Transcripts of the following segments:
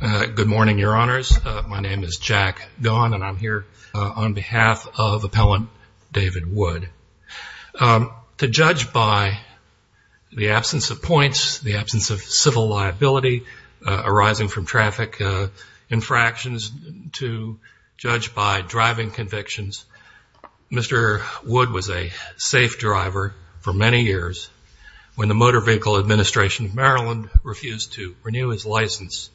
Good morning, your honors. My name is Jack Gaughan and I'm here on behalf of Appellant David Wood. To judge by the absence of points, the absence of civil liability arising from traffic infractions, to judge by driving convictions, Mr. Wood was a safe driver for many years when the Motor Vehicle Administration of Maryland refused to renew his license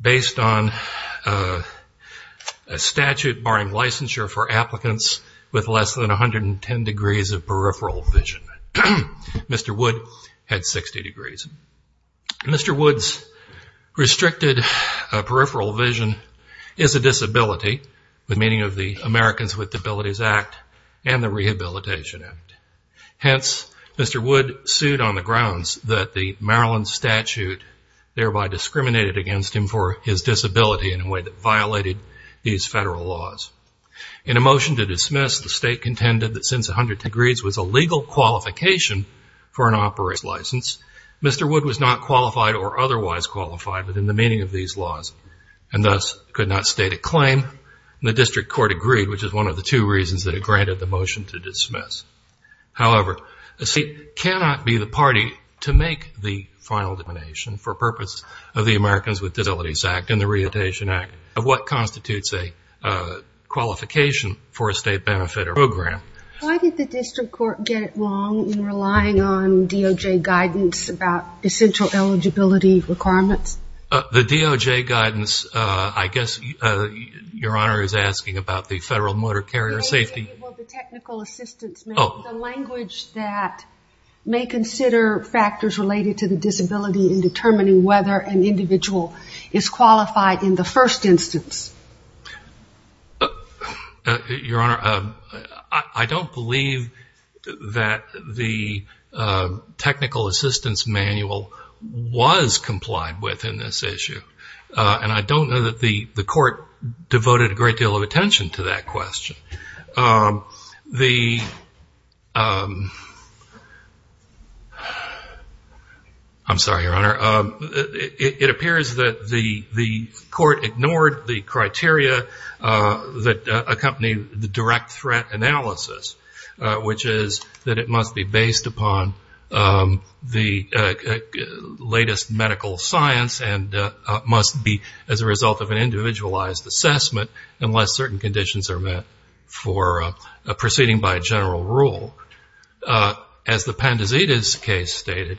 based on a statute barring licensure for applicants with less than 110 degrees of peripheral vision. Mr. Wood had 60 degrees. Mr. Wood's restricted peripheral vision is a disability, the meaning of the Americans with Disabilities Act and the grounds that the Maryland statute thereby discriminated against him for his disability in a way that violated these federal laws. In a motion to dismiss, the state contended that since 110 degrees was a legal qualification for an operator's license, Mr. Wood was not qualified or otherwise qualified within the meaning of these laws and thus could not state a claim. The district court agreed, which is one of the two reasons that it granted the motion to dismiss. However, the state cannot be the party to make the final determination for purpose of the Americans with Disabilities Act and the Rehabilitation Act of what constitutes a qualification for a state benefit or program. Why did the district court get it wrong in relying on DOJ guidance about essential eligibility requirements? The DOJ guidance, I guess Your Honor is asking about the Federal Motor Carrier Safety The Technical Assistance Manual, the language that may consider factors related to the disability in determining whether an individual is qualified in the first instance. Your Honor, I don't believe that the Technical Assistance Manual was complied with in this issue and I don't know that the court devoted a great deal of attention to that question. I'm sorry, Your Honor. It appears that the court ignored the criteria that accompanied the direct threat analysis, which is that it must be based upon the latest medical science and must be as a individualized assessment unless certain conditions are met for proceeding by a general rule. As the Pandizita's case stated,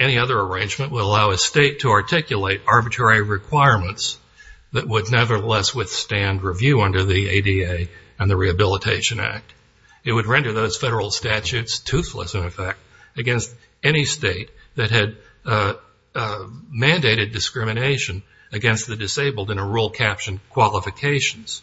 any other arrangement will allow a state to articulate arbitrary requirements that would nevertheless withstand review under the ADA and the Rehabilitation Act. It would render those federal statutes toothless, in effect, against any state that had mandated discrimination against the disabled in a rule captioned qualifications.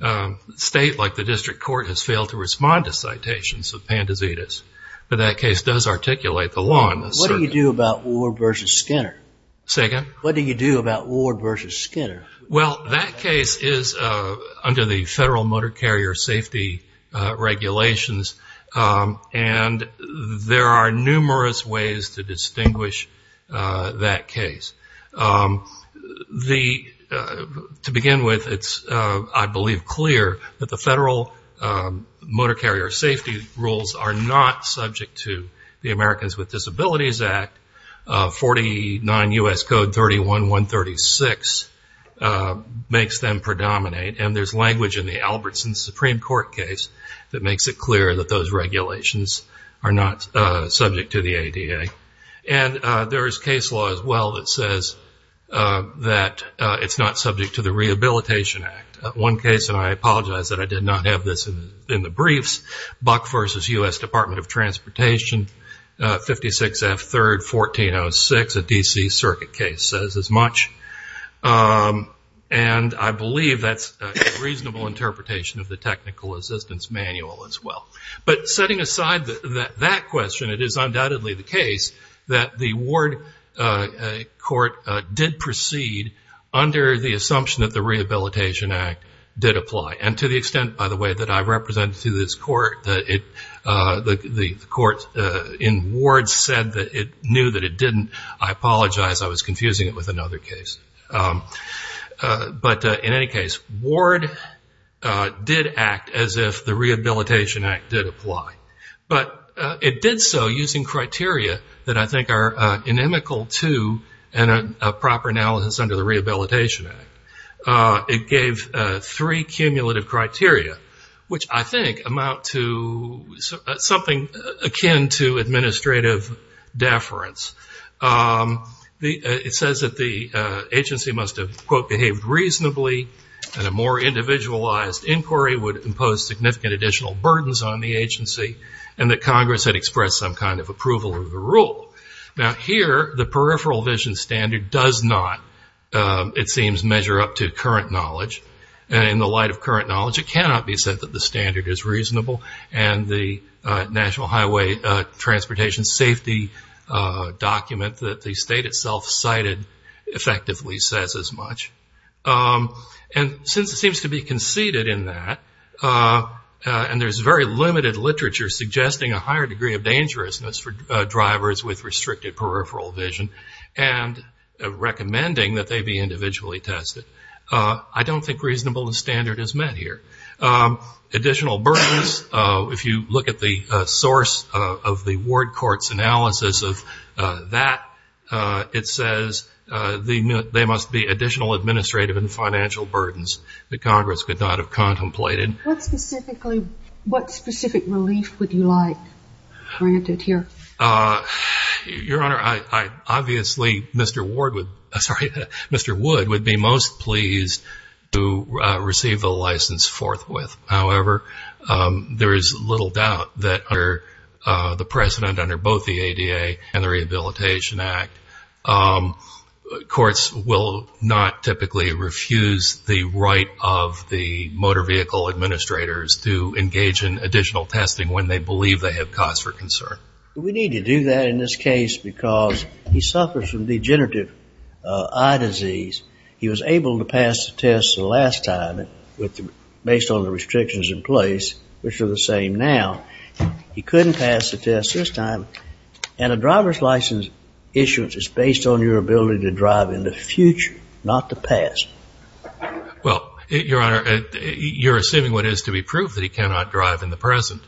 A state like the District Court has failed to respond to citations of Pandizita's, but that case does articulate the law in the circuit. What do you do about Ward versus Skinner? Say again? What do you do about Ward versus Skinner? Well, that case is under the Federal Motor Carrier Safety regulations and there are numerous ways to deal with that. To begin with, it's, I believe, clear that the Federal Motor Carrier Safety rules are not subject to the Americans with Disabilities Act. 49 U.S. Code 31-136 makes them predominate and there's language in the Albertson Supreme Court case that makes it clear that those regulations are not subject to the ADA. There is case law as well that says that it's not subject to the Rehabilitation Act. One case, and I apologize that I did not have this in the briefs, Buck versus U.S. Department of Transportation, 56 F. 3rd, 1406, a D.C. circuit case says as much. I believe that's a reasonable interpretation of the Technical Assistance Manual as well. Setting aside that question, it is undoubtedly the case that the Ward court did proceed under the assumption that the Rehabilitation Act did apply. And to the extent, by the way, that I've represented to this court, the court in Ward said that it knew that it didn't. I apologize. I was confusing it with another case. But in any case, Ward did act as if the Rehabilitation Act did apply. But it did so using criteria that I think are inimical to a proper analysis under the Rehabilitation Act. It gave three cumulative criteria, which I think amount to something akin to administrative deference. It says that the agency must have, quote, behaved reasonably, and a more individualized inquiry would impose significant additional burdens on the agency, and that Congress had expressed some kind of approval of the rule. Now here, the peripheral vision standard does not, it seems, measure up to current knowledge. In the light of current knowledge, it cannot be said that the standard is reasonable. And the National Highway Transportation Safety document that the state itself cited effectively says as much. And since it seems to be conceded in that, and there's very limited literature suggesting a higher degree of dangerousness for drivers with restricted peripheral vision, and recommending that they be individually tested, I don't think reasonable standard is met here. Additional burdens, if you look at the source of the Ward Court's analysis of that, it says they must be additional administrative and financial burdens that Congress could not have contemplated. What specific relief would you like granted here? Your Honor, obviously Mr. Ward would, sorry, Mr. Wood would be most pleased to receive the license forthwith. However, there is little doubt that under the precedent under both the ADA and the Rehabilitation Act, courts will not typically refuse the right of the motor vehicle administrators to engage in additional testing when they believe they have cause for concern. We need to do that in this case because he suffers from degenerative eye disease. He was able to pass the test the last time, based on the evidence that he has, and a driver's license issuance is based on your ability to drive in the future, not the past. Well, Your Honor, you're assuming what is to be proved, that he cannot drive in the present.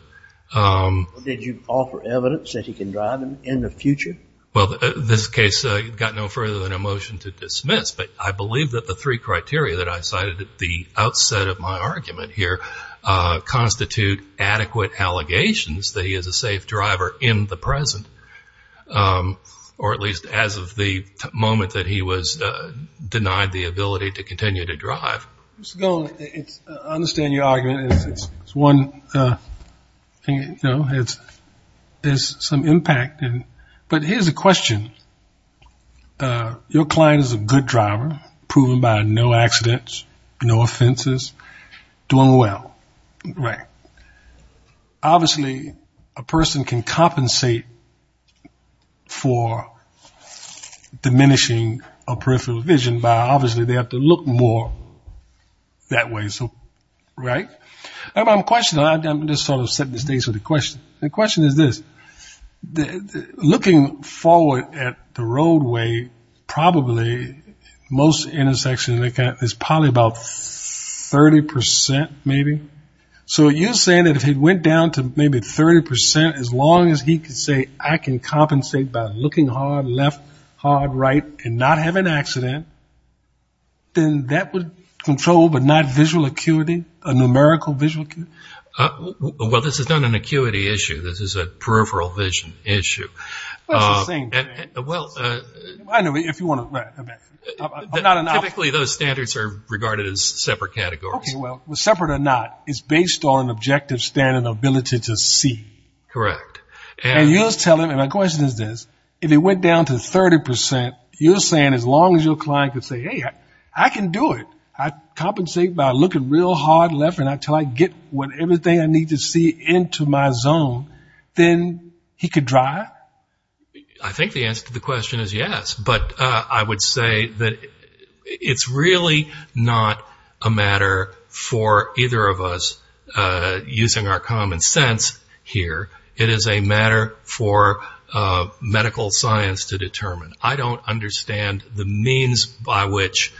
Did you offer evidence that he can drive in the future? Well, this case got no further than a motion to dismiss, but I believe that the three criteria that I cited at the outset of my argument here constitute adequate allegations that he is a safe driver in the present, or at least as of the moment that he was denied the ability to continue to drive. Mr. Golden, I understand your argument. It's one thing, you know, there's some impact, but here's a question. Your client is a good driver, proven by no offenses, doing well, right? Obviously, a person can compensate for diminishing a peripheral vision by obviously they have to look more that way, right? I have a question, I'm just sort of setting the stage for the question. The question is this, looking forward at the roadway, probably most intersections, it's probably about 30%, maybe? So you're saying that if he went down to maybe 30%, as long as he could say, I can compensate by looking hard left, hard right, and not have an accident, then that would control, but not visual acuity, a numerical visual acuity? Well, this is not an acuity issue, this is a peripheral vision issue. Well, it's the same thing. Typically those standards are regarded as separate categories. Okay, well, separate or not, it's based on objective standard ability to see. Correct. And you're telling me, my question is this, if he went down to 30%, you're saying as long as your client could say, hey, I can do it, I compensate by looking real hard left until I get everything I need to see into my zone, then he could drive? I think the answer to the question is yes, but I would say that it's really not a matter for either of us using our common sense here. It is a matter for medical science to determine. I don't understand the means by which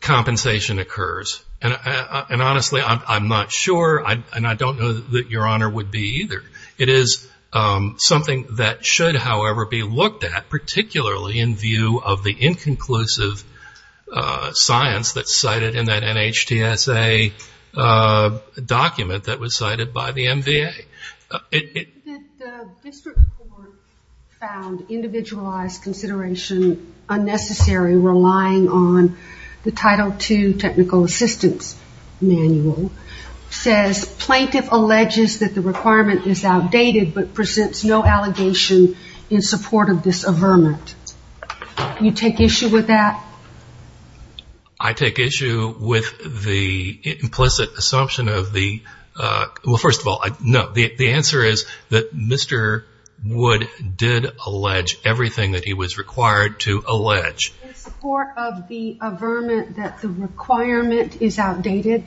compensation occurs. And honestly, I'm not sure, and I don't know that Your Honor would be either. It is something that should, however, be looked at, particularly in view of the inconclusive science that's cited in that NHTSA document that was cited by the MVA. The district court found individualized consideration unnecessary relying on the Title II technical assistance manual, says plaintiff alleges that the requirement is outdated but presents no allegation in support of this averment. You take issue with that? I take issue with the implicit assumption of the, well, first of all, no, the answer is that Mr. Wood did allege everything that he was required to allege. In support of the averment that the requirement is outdated?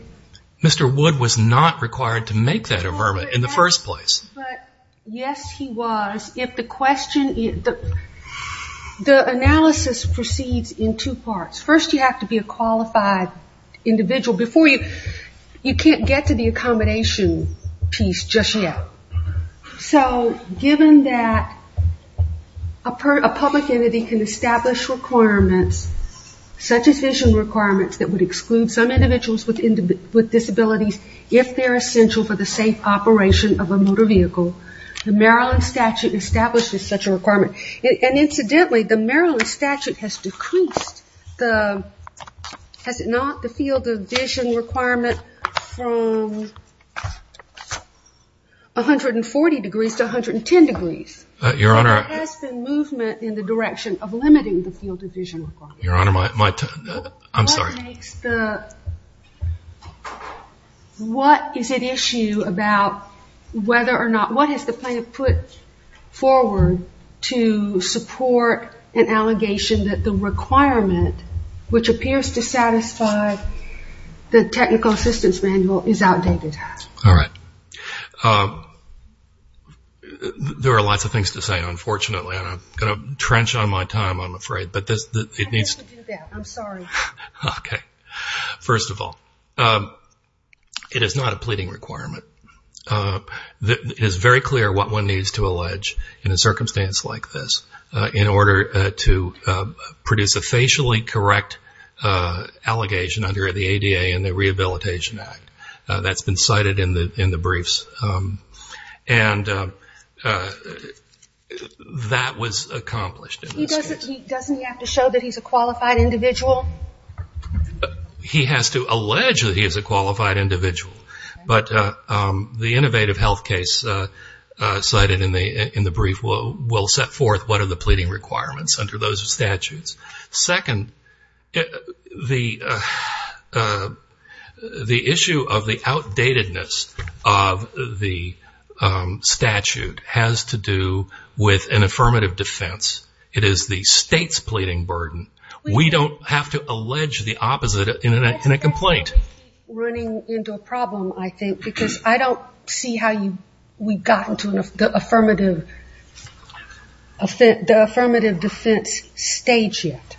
Mr. Wood was not required to make that averment in the first place. Yes, he was. The analysis proceeds in two parts. First, you have to be a qualified individual. You can't get to the accommodation piece just yet. So given that a public entity can establish requirements, such as vision requirements that would exclude some individuals with disabilities if they're essential for the safe operation of a motor vehicle, the Maryland statute establishes such a requirement. And incidentally, the Maryland statute has decreased the, has it not, the field of vision requirement from 140 degrees to 110 degrees. Your Honor. There has been movement in the direction of limiting the field of vision requirement. Your Honor, I'm sorry. What is at issue about whether or not, what has the plaintiff put forward to support an allegation that the requirement, which appears to satisfy the technical assistance manual, is outdated? All right. There are lots of things to say, unfortunately, and I'm going to trench on my time, I'm afraid. I didn't mean to do that. I'm sorry. Okay. First of all, it is not a pleading requirement. It is very clear what one needs to allege in a circumstance like this in order to produce a facially correct allegation under the ADA and the Rehabilitation Act. That's been cited in the briefs. And that was accomplished. Doesn't he have to show that he's a qualified individual? He has to allege that he is a qualified individual. But the innovative health case cited in the brief will set forth what are the pleading requirements under those statutes. Second, the issue of the outdatedness of the statute has to do with an affirmative defense. It is the state's pleading burden. We don't have to allege the opposite in a complaint. We're running into a problem, I think, because I don't see how we've gotten to the affirmative defense stage yet.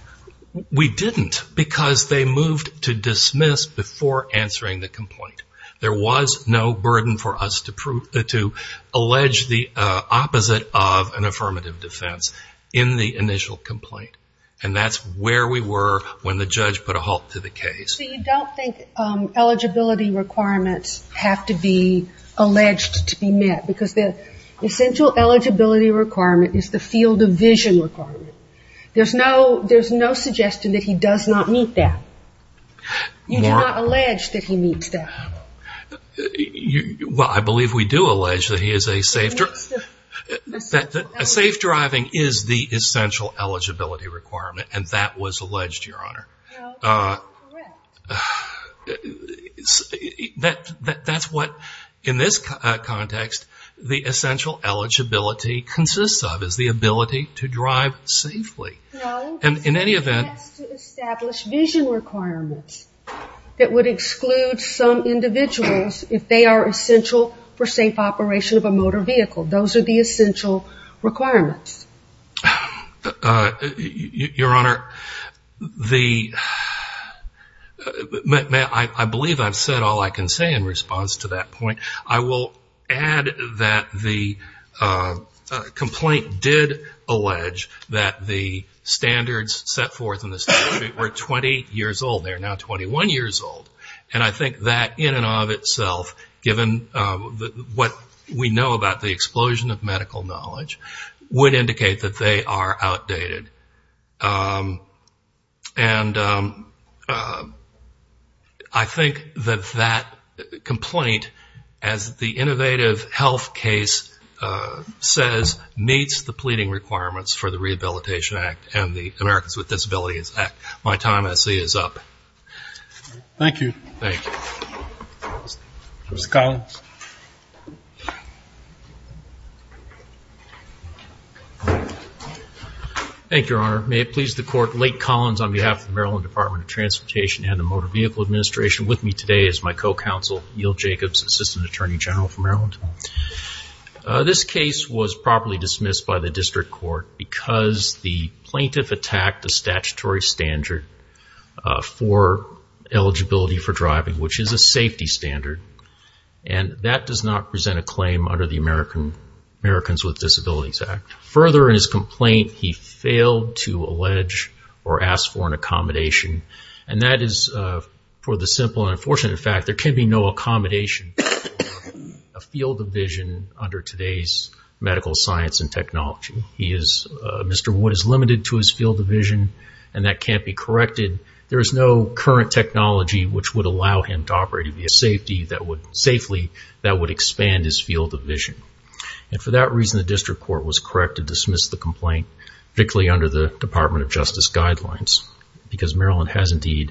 We didn't because they moved to dismiss before answering the complaint. There was no burden for us to allege the opposite of an affirmative defense in the initial complaint. And that's where we were when the judge put a halt to the case. So you don't think eligibility requirements have to be alleged to be met because the essential eligibility requirement is the field of vision requirement. There's no suggestion that he does not meet that. You do not allege that he meets that. Well, I believe we do allege that a safe driving is the essential eligibility requirement. And that was alleged, Your Honor. No, that's incorrect. That's what in this context the essential eligibility consists of, is the ability to drive safely. No, it has to establish vision requirements that would exclude some individuals if they are essential for safe operation of a motor vehicle. Those are the essential requirements. Your Honor, I believe I've said all I can say in response to that point. I will add that the complaint did allege that the standards set forth in the statute were 20 years old. They are now 21 years old. And I think that in and of itself, given what we know about the explosion of safety, does not indicate that they are outdated. And I think that that complaint, as the Innovative Health case says, meets the pleading requirements for the Rehabilitation Act and the Americans with Disabilities Act. My time, I see, is up. Thank you. Thank you. Mr. Collins. Thank you, Your Honor. May it please the Court. Lake Collins on behalf of the Maryland Department of Transportation and the Motor Vehicle Administration with me today is my co-counsel, Eel Jacobs, Assistant Attorney General for Maryland. This case was properly dismissed by the district court because the plaintiff attacked the statutory standard for eligibility for driving, which is a safety standard. And that does not present a claim under the Americans with Disabilities Act. Further, in his complaint, he failed to allege or ask for an accommodation. And that is for the simple and unfortunate fact there can be no accommodation for a field of vision under today's medical science and technology. Mr. Wood is limited to his field of vision, and that can't be corrected. There is no current technology which would allow him to operate safely that would expand his field of vision. And for that reason, the district court was correct to dismiss the complaint, particularly under the Department of Justice guidelines, because Maryland has indeed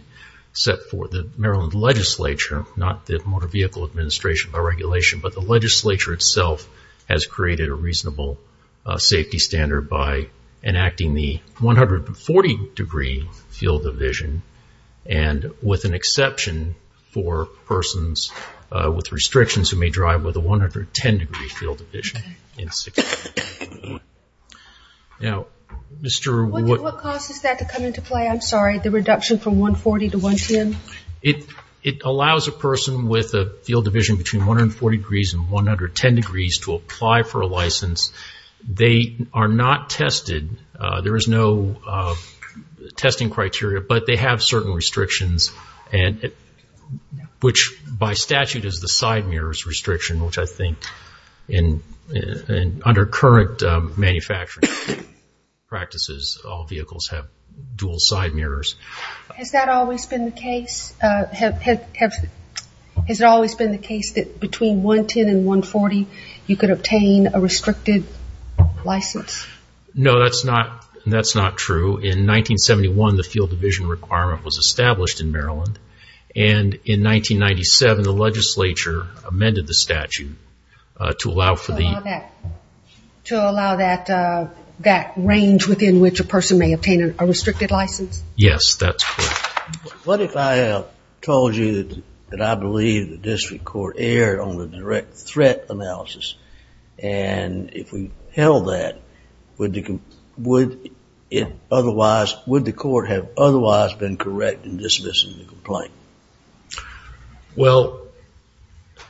set forth the Maryland legislature, not the Motor Vehicle Administration by regulation, but the legislature itself has created a reasonable safety standard by enacting the 140-degree field of vision. And with an exception for persons with restrictions who may drive with a 110-degree field of vision. Now, Mr. Wood. What causes that to come into play? I'm sorry, the reduction from 140 to 110? It allows a person with a field of vision between 140 degrees and 110 degrees to apply for a license. They are not tested. There is no testing criteria, but they have certain restrictions, which by statute is the side mirrors restriction, which I think under current manufacturing practices, all vehicles have dual side mirrors. Has that always been the case? Has it always been the case that between 110 and 140, you could obtain a restricted license? No, that's not true. In 1971, the field of vision requirement was established in Maryland, and in 1997, the legislature amended the statute to allow for the... To allow that range within which a person may obtain a restricted license? Yes, that's correct. What if I told you that I believe the district court erred on the direct threat analysis, and if we held that, would the court have otherwise been correct in dismissing the complaint? Well,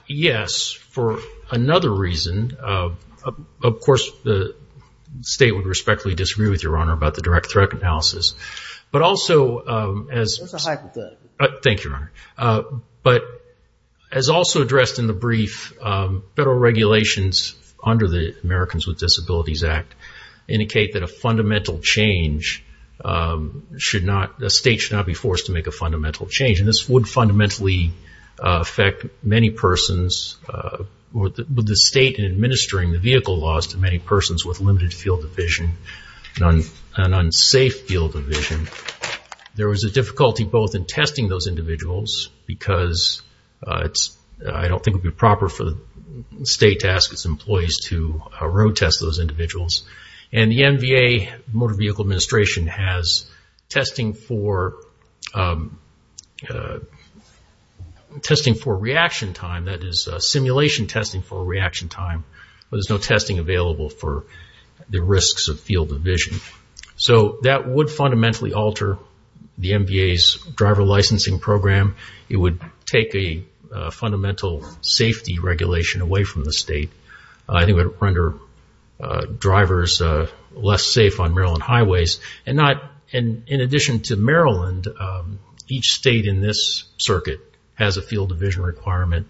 yes, for another reason. Of course, the state would respectfully disagree with Your Honor about the direct threat analysis, but also as... That's a hypothetical. Thank you, Your Honor. But as also addressed in the brief, federal regulations under the Americans with Disabilities Act indicate that a fundamental change should not... The state should not be forced to make a fundamental change, and this would fundamentally affect many persons... The state in administering the vehicle laws to many persons with limited field of vision, an unsafe field of vision. There was a difficulty both in testing those individuals, because I don't think it would be proper for the state to ask its employees to road test those individuals. And the MVA, Motor Vehicle Administration, has testing for reaction time, that is simulation testing for reaction time, but there's no testing available for the risks of field of vision. So that would fundamentally alter the MVA's driver licensing program. It would take a fundamental safety regulation away from the state. I think it would render drivers less safe on Maryland highways. And in addition to Maryland, each state in this circuit has a field of vision requirement,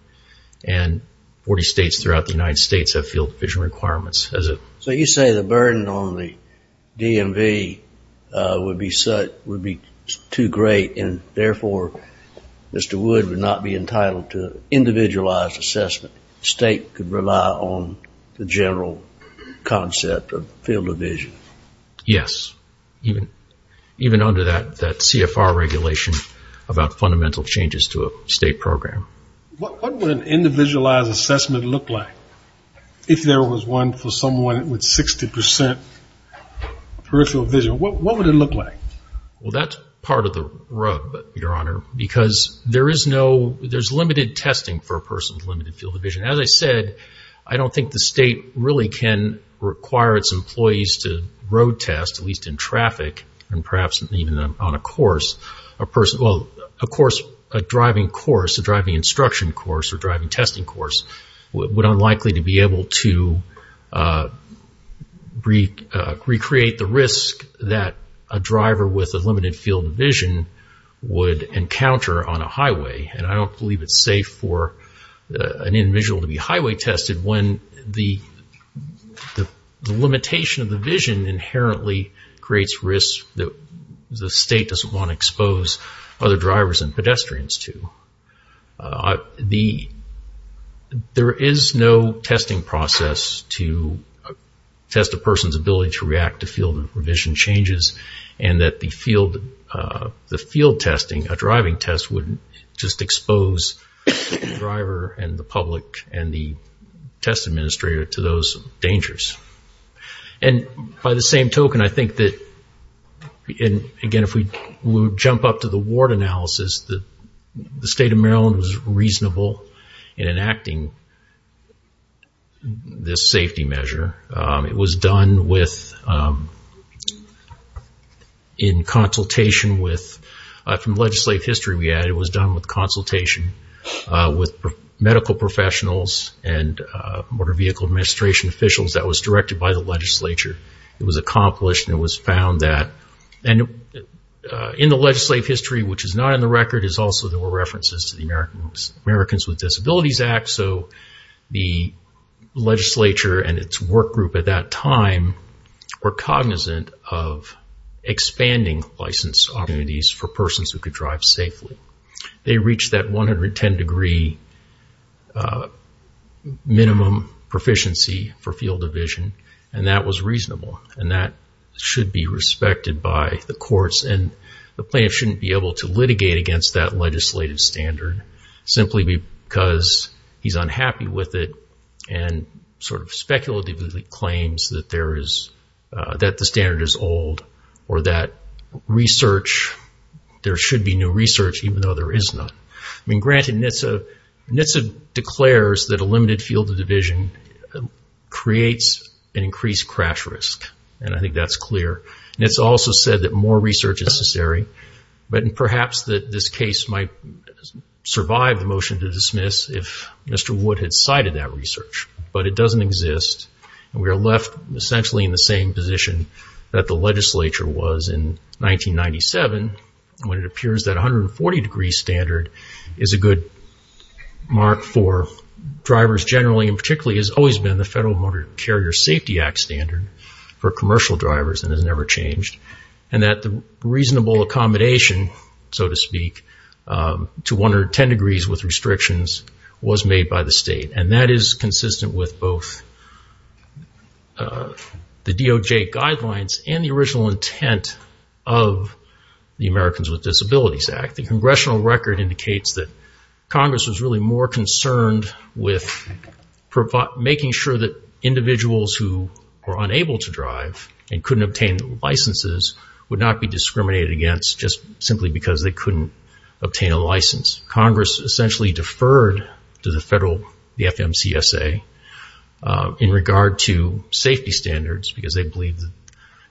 and 40 states throughout the United States have field of vision requirements. So you say the burden on the DMV would be too great, and therefore Mr. Wood would not be entitled to individualized assessment. The state could rely on the general concept of field of vision. Yes, even under that CFR regulation about fundamental changes to a state program. What would an individualized assessment look like if there was one for someone with 60% peripheral vision? What would it look like? Well, that's part of the rub, Your Honor, because there is no ‑‑ there's limited testing for a person with limited field of vision. As I said, I don't think the state really can require its employees to road test, at least in traffic, and perhaps even on a course. A course, a driving course, a driving instruction course or driving testing course, would unlikely to be able to recreate the risk that a driver with a limited field of vision would encounter on a highway. And I don't believe it's safe for an individual to be highway tested when the limitation of the vision inherently creates risk that the state doesn't want to expose other drivers and pedestrians to. There is no testing process to test a person's ability to react to field of vision changes and that the field testing, a driving test, would just expose the driver and the public and the test administrator to those dangers. And by the same token, I think that, again, if we jump up to the ward analysis, the state of Maryland was reasonable in enacting this safety measure. It was done with, in consultation with, from legislative history we added, it was done with consultation with medical professionals and motor vehicle administration officials that was directed by the legislature. It was accomplished and it was found that, and in the legislative history which is not on the record, is also there were references to the Americans with Disabilities Act. So the legislature and its work group at that time were cognizant of expanding license opportunities for persons who could drive safely. They reached that 110 degree minimum proficiency for field of vision and that was reasonable and that should be respected by the courts and the plaintiff shouldn't be able to litigate against that legislative standard simply because he's unhappy with it and sort of speculatively claims that the standard is old or that research, there should be new research even though there is none. I mean, granted NHTSA declares that a limited field of division creates an increased crash risk and I think that's clear. NHTSA also said that more research is necessary, but perhaps that this case might survive the motion to dismiss if Mr. Wood had cited that research. But it doesn't exist. We are left essentially in the same position that the legislature was in 1997 when it appears that 140 degree standard is a good mark for drivers generally and particularly has always been the Federal Motor Carrier Safety Act standard for commercial drivers and has never changed and that the reasonable accommodation, so to speak, to 110 degrees with restrictions was made by the state and that is consistent with both the DOJ guidelines and the original intent of the Americans with Disabilities Act. The congressional record indicates that Congress was really more concerned with making sure that individuals who were unable to drive and couldn't obtain licenses would not be discriminated against just simply because they couldn't obtain a license. Congress essentially deferred to the Federal, the FMCSA, in regard to safety standards because they believed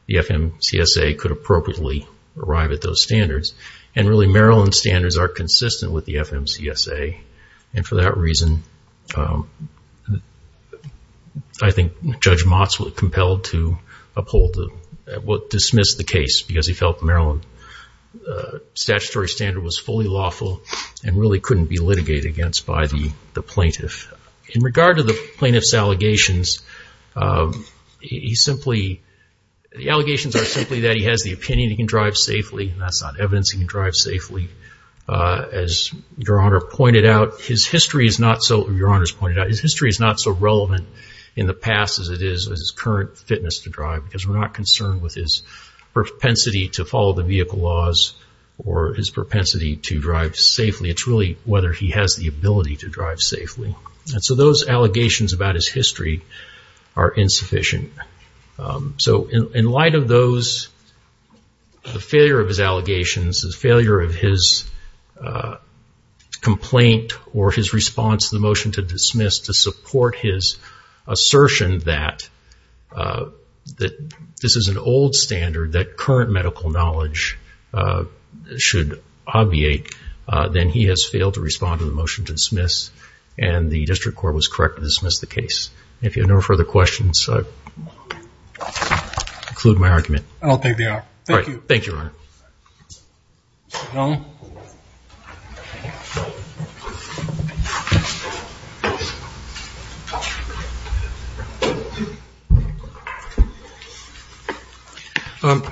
the FMCSA could appropriately arrive at those standards and really Maryland standards are consistent with the FMCSA and for that reason I think Judge Motz was compelled to uphold, dismiss the case because he felt Maryland statutory standard was fully lawful and really couldn't be litigated against by the plaintiff. In regard to the plaintiff's allegations, he simply, the allegations are simply that he has the opinion he can drive safely and that's not evidence he can drive safely. As Your Honor pointed out, his history is not so, Your Honor's pointed out, his history is not so relevant in the past as it is in his current fitness to drive because we're not concerned with his propensity to follow the vehicle laws or his propensity to drive safely. It's really whether he has the ability to drive safely. And so those allegations about his history are insufficient. So in light of those, the failure of his allegations, the failure of his complaint or his response to the motion to dismiss to support his assertion that this is an old standard, that current medical knowledge should obviate, then he has failed to respond to the motion to dismiss and the district court was correct to dismiss the case. If you have no further questions, I'll conclude my argument. I'll take the argument. Thank you. Thank you, Your Honor. Mr. Stone?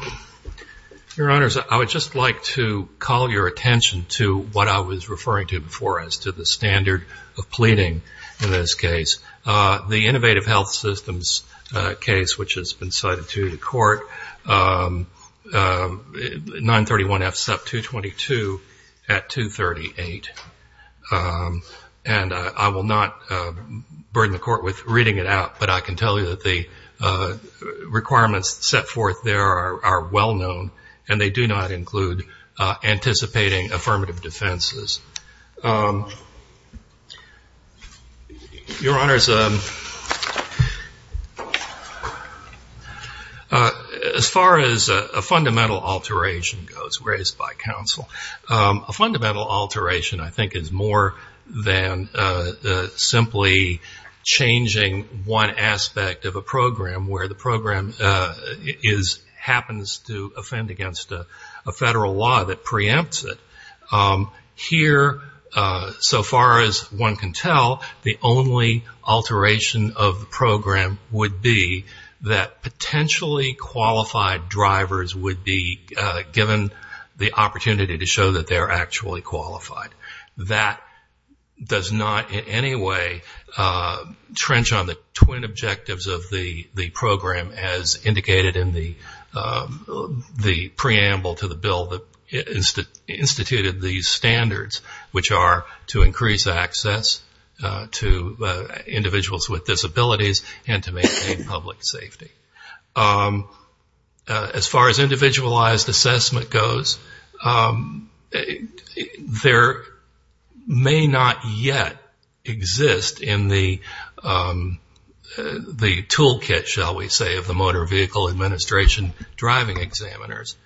Your Honors, I would just like to call your attention to what I was referring to before as to the standard of pleading in this case. The Innovative Health Systems case, which has been cited to the court, 931F, SEP 222 at 238. And I will not burden the court with reading it out, but I can tell you that the requirements set forth there are well known and they do not include anticipating affirmative defenses. Your Honors, as far as a fundamental alteration goes, raised by counsel, a fundamental alteration I think is more than simply changing one aspect of a program where the program happens to offend against a federal law that preempts it. Here, so far as one can tell, the only alteration of the program would be that potentially qualified drivers would be given the opportunity to show that they are actually qualified. That does not in any way trench on the twin objectives of the program as indicated in the preamble to the bill that instituted these standards, which are to increase access to individuals with disabilities and to maintain public safety. As far as individualized assessment goes, there may not yet exist in the toolkit, shall we say, of the Motor Vehicle Administration driving examiners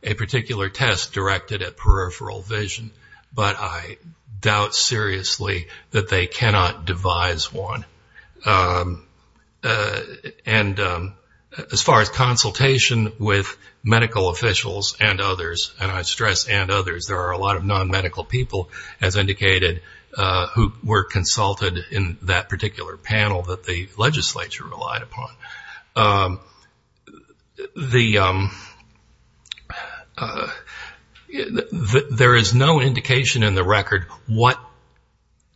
a particular test directed at peripheral vision, but I doubt seriously that they cannot devise one. And as far as consultation with medical officials and others, and I stress and others, there are a lot of non-medical people, as indicated, who were consulted in that and the legislature relied upon. There is no indication in the record what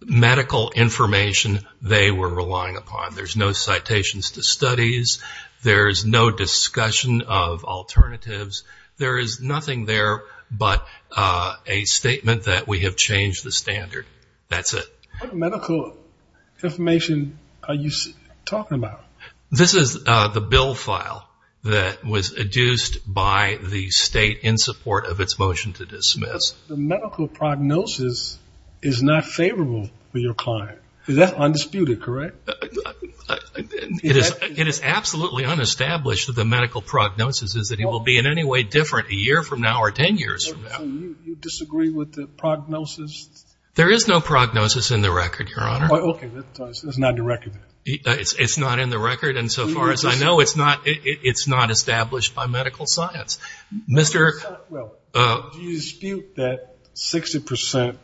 medical information they were relying upon. There's no citations to studies. There's no discussion of alternatives. There is nothing there but a statement that we have changed the standard. That's it. What medical information are you talking about? This is the bill file that was adduced by the state in support of its motion to dismiss. The medical prognosis is not favorable for your client. Is that undisputed, correct? It is absolutely unestablished that the medical prognosis is that he will be in any way different a year from now or ten years from now. So you disagree with the prognosis? There is no prognosis in the record, Your Honor. Okay. It's not in the record. It's not in the record. And so far as I know, it's not established by medical science. Do you dispute that 60%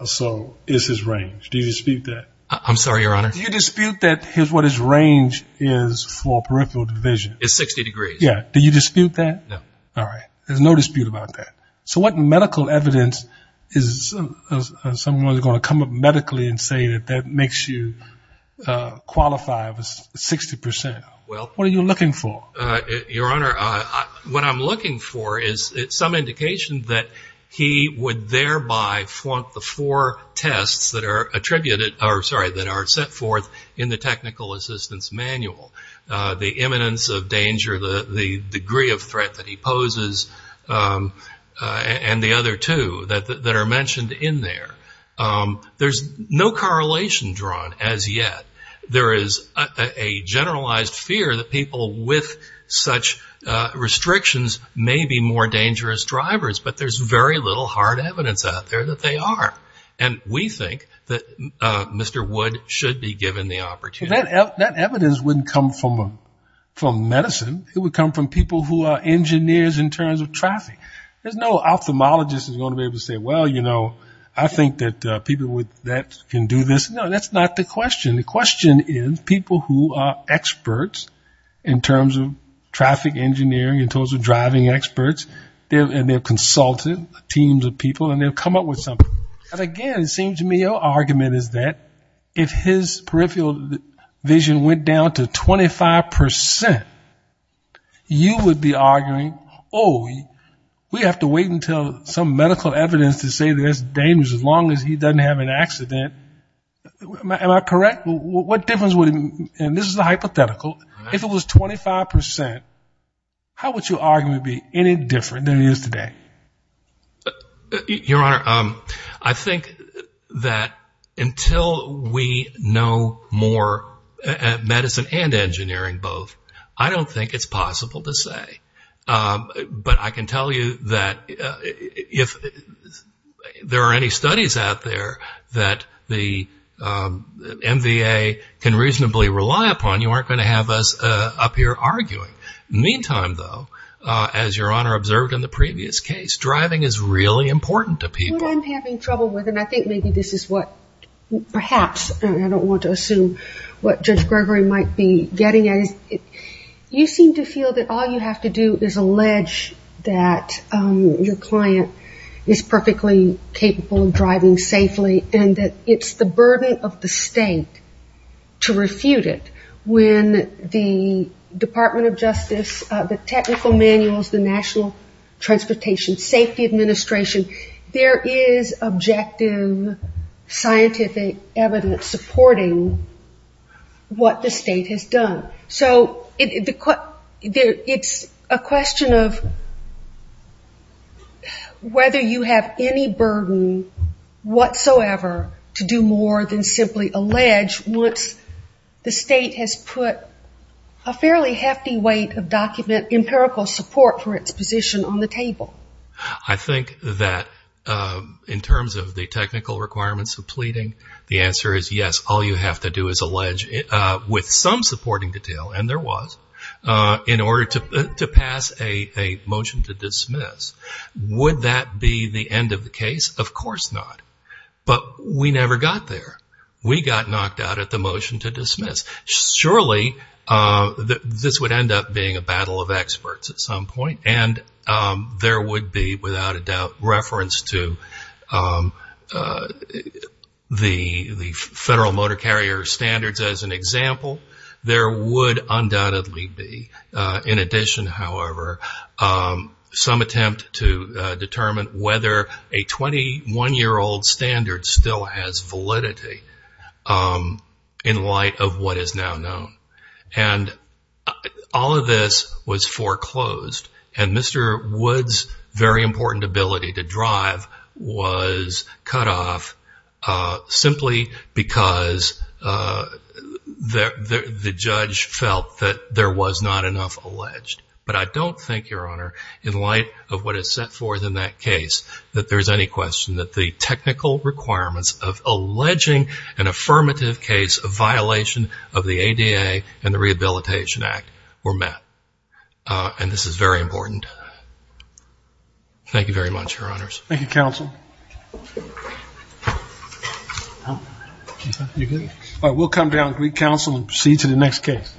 or so is his range? Do you dispute that? I'm sorry, Your Honor. Do you dispute that what his range is for peripheral division? It's 60 degrees. Yeah. Do you dispute that? No. All right. There's no dispute about that. So what medical evidence is someone going to come up medically and say that that makes you qualify for 60%? Well, what are you looking for? Your Honor, what I'm looking for is some indication that he would thereby flaunt the four tests that are attributed or, sorry, that are set forth in the technical assistance manual. The imminence of danger, the degree of threat that he poses, and the other two that are mentioned in there. There's no correlation drawn as yet. There is a generalized fear that people with such restrictions may be more dangerous drivers, but there's very little hard evidence out there that they are. And we think that Mr. Wood should be given the opportunity. That evidence wouldn't come from medicine. It would come from people who are engineers in terms of traffic. There's no ophthalmologist that's going to be able to say, well, you know, I think that people with that can do this. No, that's not the question. The question is people who are experts in terms of traffic engineering, in terms of driving experts, and they've consulted teams of people, and they've come up with something. And, again, it seems to me your argument is that if his peripheral vision went down to 25%, you would be arguing, oh, we have to wait until some medical evidence to say that it's dangerous, as long as he doesn't have an accident. Am I correct? What difference would it make? And this is a hypothetical. If it was 25%, how would your argument be any different than it is today? Your Honor, I think that until we know more medicine and engineering both, I don't think it's possible to say. But I can tell you that if there are any studies out there that the MVA can reasonably rely upon, you aren't going to have us up here arguing. Meantime, though, as Your Honor observed in the previous case, driving is really important to people. What I'm having trouble with, and I think maybe this is what perhaps, and I don't want to assume what Judge Gregory might be getting at, is you seem to feel that all you have to do is allege that your client is perfectly capable of driving safely and that it's the burden of the state to do more than simply allege once the state has put a fairly hefty weight on the state to document empirical support for its position on the table. I think that in terms of the technical requirements of pleading, the answer is yes, all you have to do is allege with some supporting detail, and there was, in order to pass a motion to dismiss. Would that be the end of the case? Of course not. But we never got there. We got knocked out at the motion to dismiss. Surely this would end up being a battle of experts at some point, and there would be, without a doubt, reference to the Federal Motor Carrier Standards as an example. There would undoubtedly be. In addition, however, some attempt to determine whether a 21-year-old standard still has validity in light of what is now known. And all of this was foreclosed, and Mr. Wood's very important ability to drive was cut off simply because the judge felt that there was not enough alleged. But I don't think, Your Honor, in light of what is set forth in that case that there's any question that the technical requirements of alleging an affirmative case of violation of the ADA and the Rehabilitation Act were met. And this is very important. Thank you very much, Your Honors. Thank you, Counsel. We'll come down, Counsel, and proceed to the next case.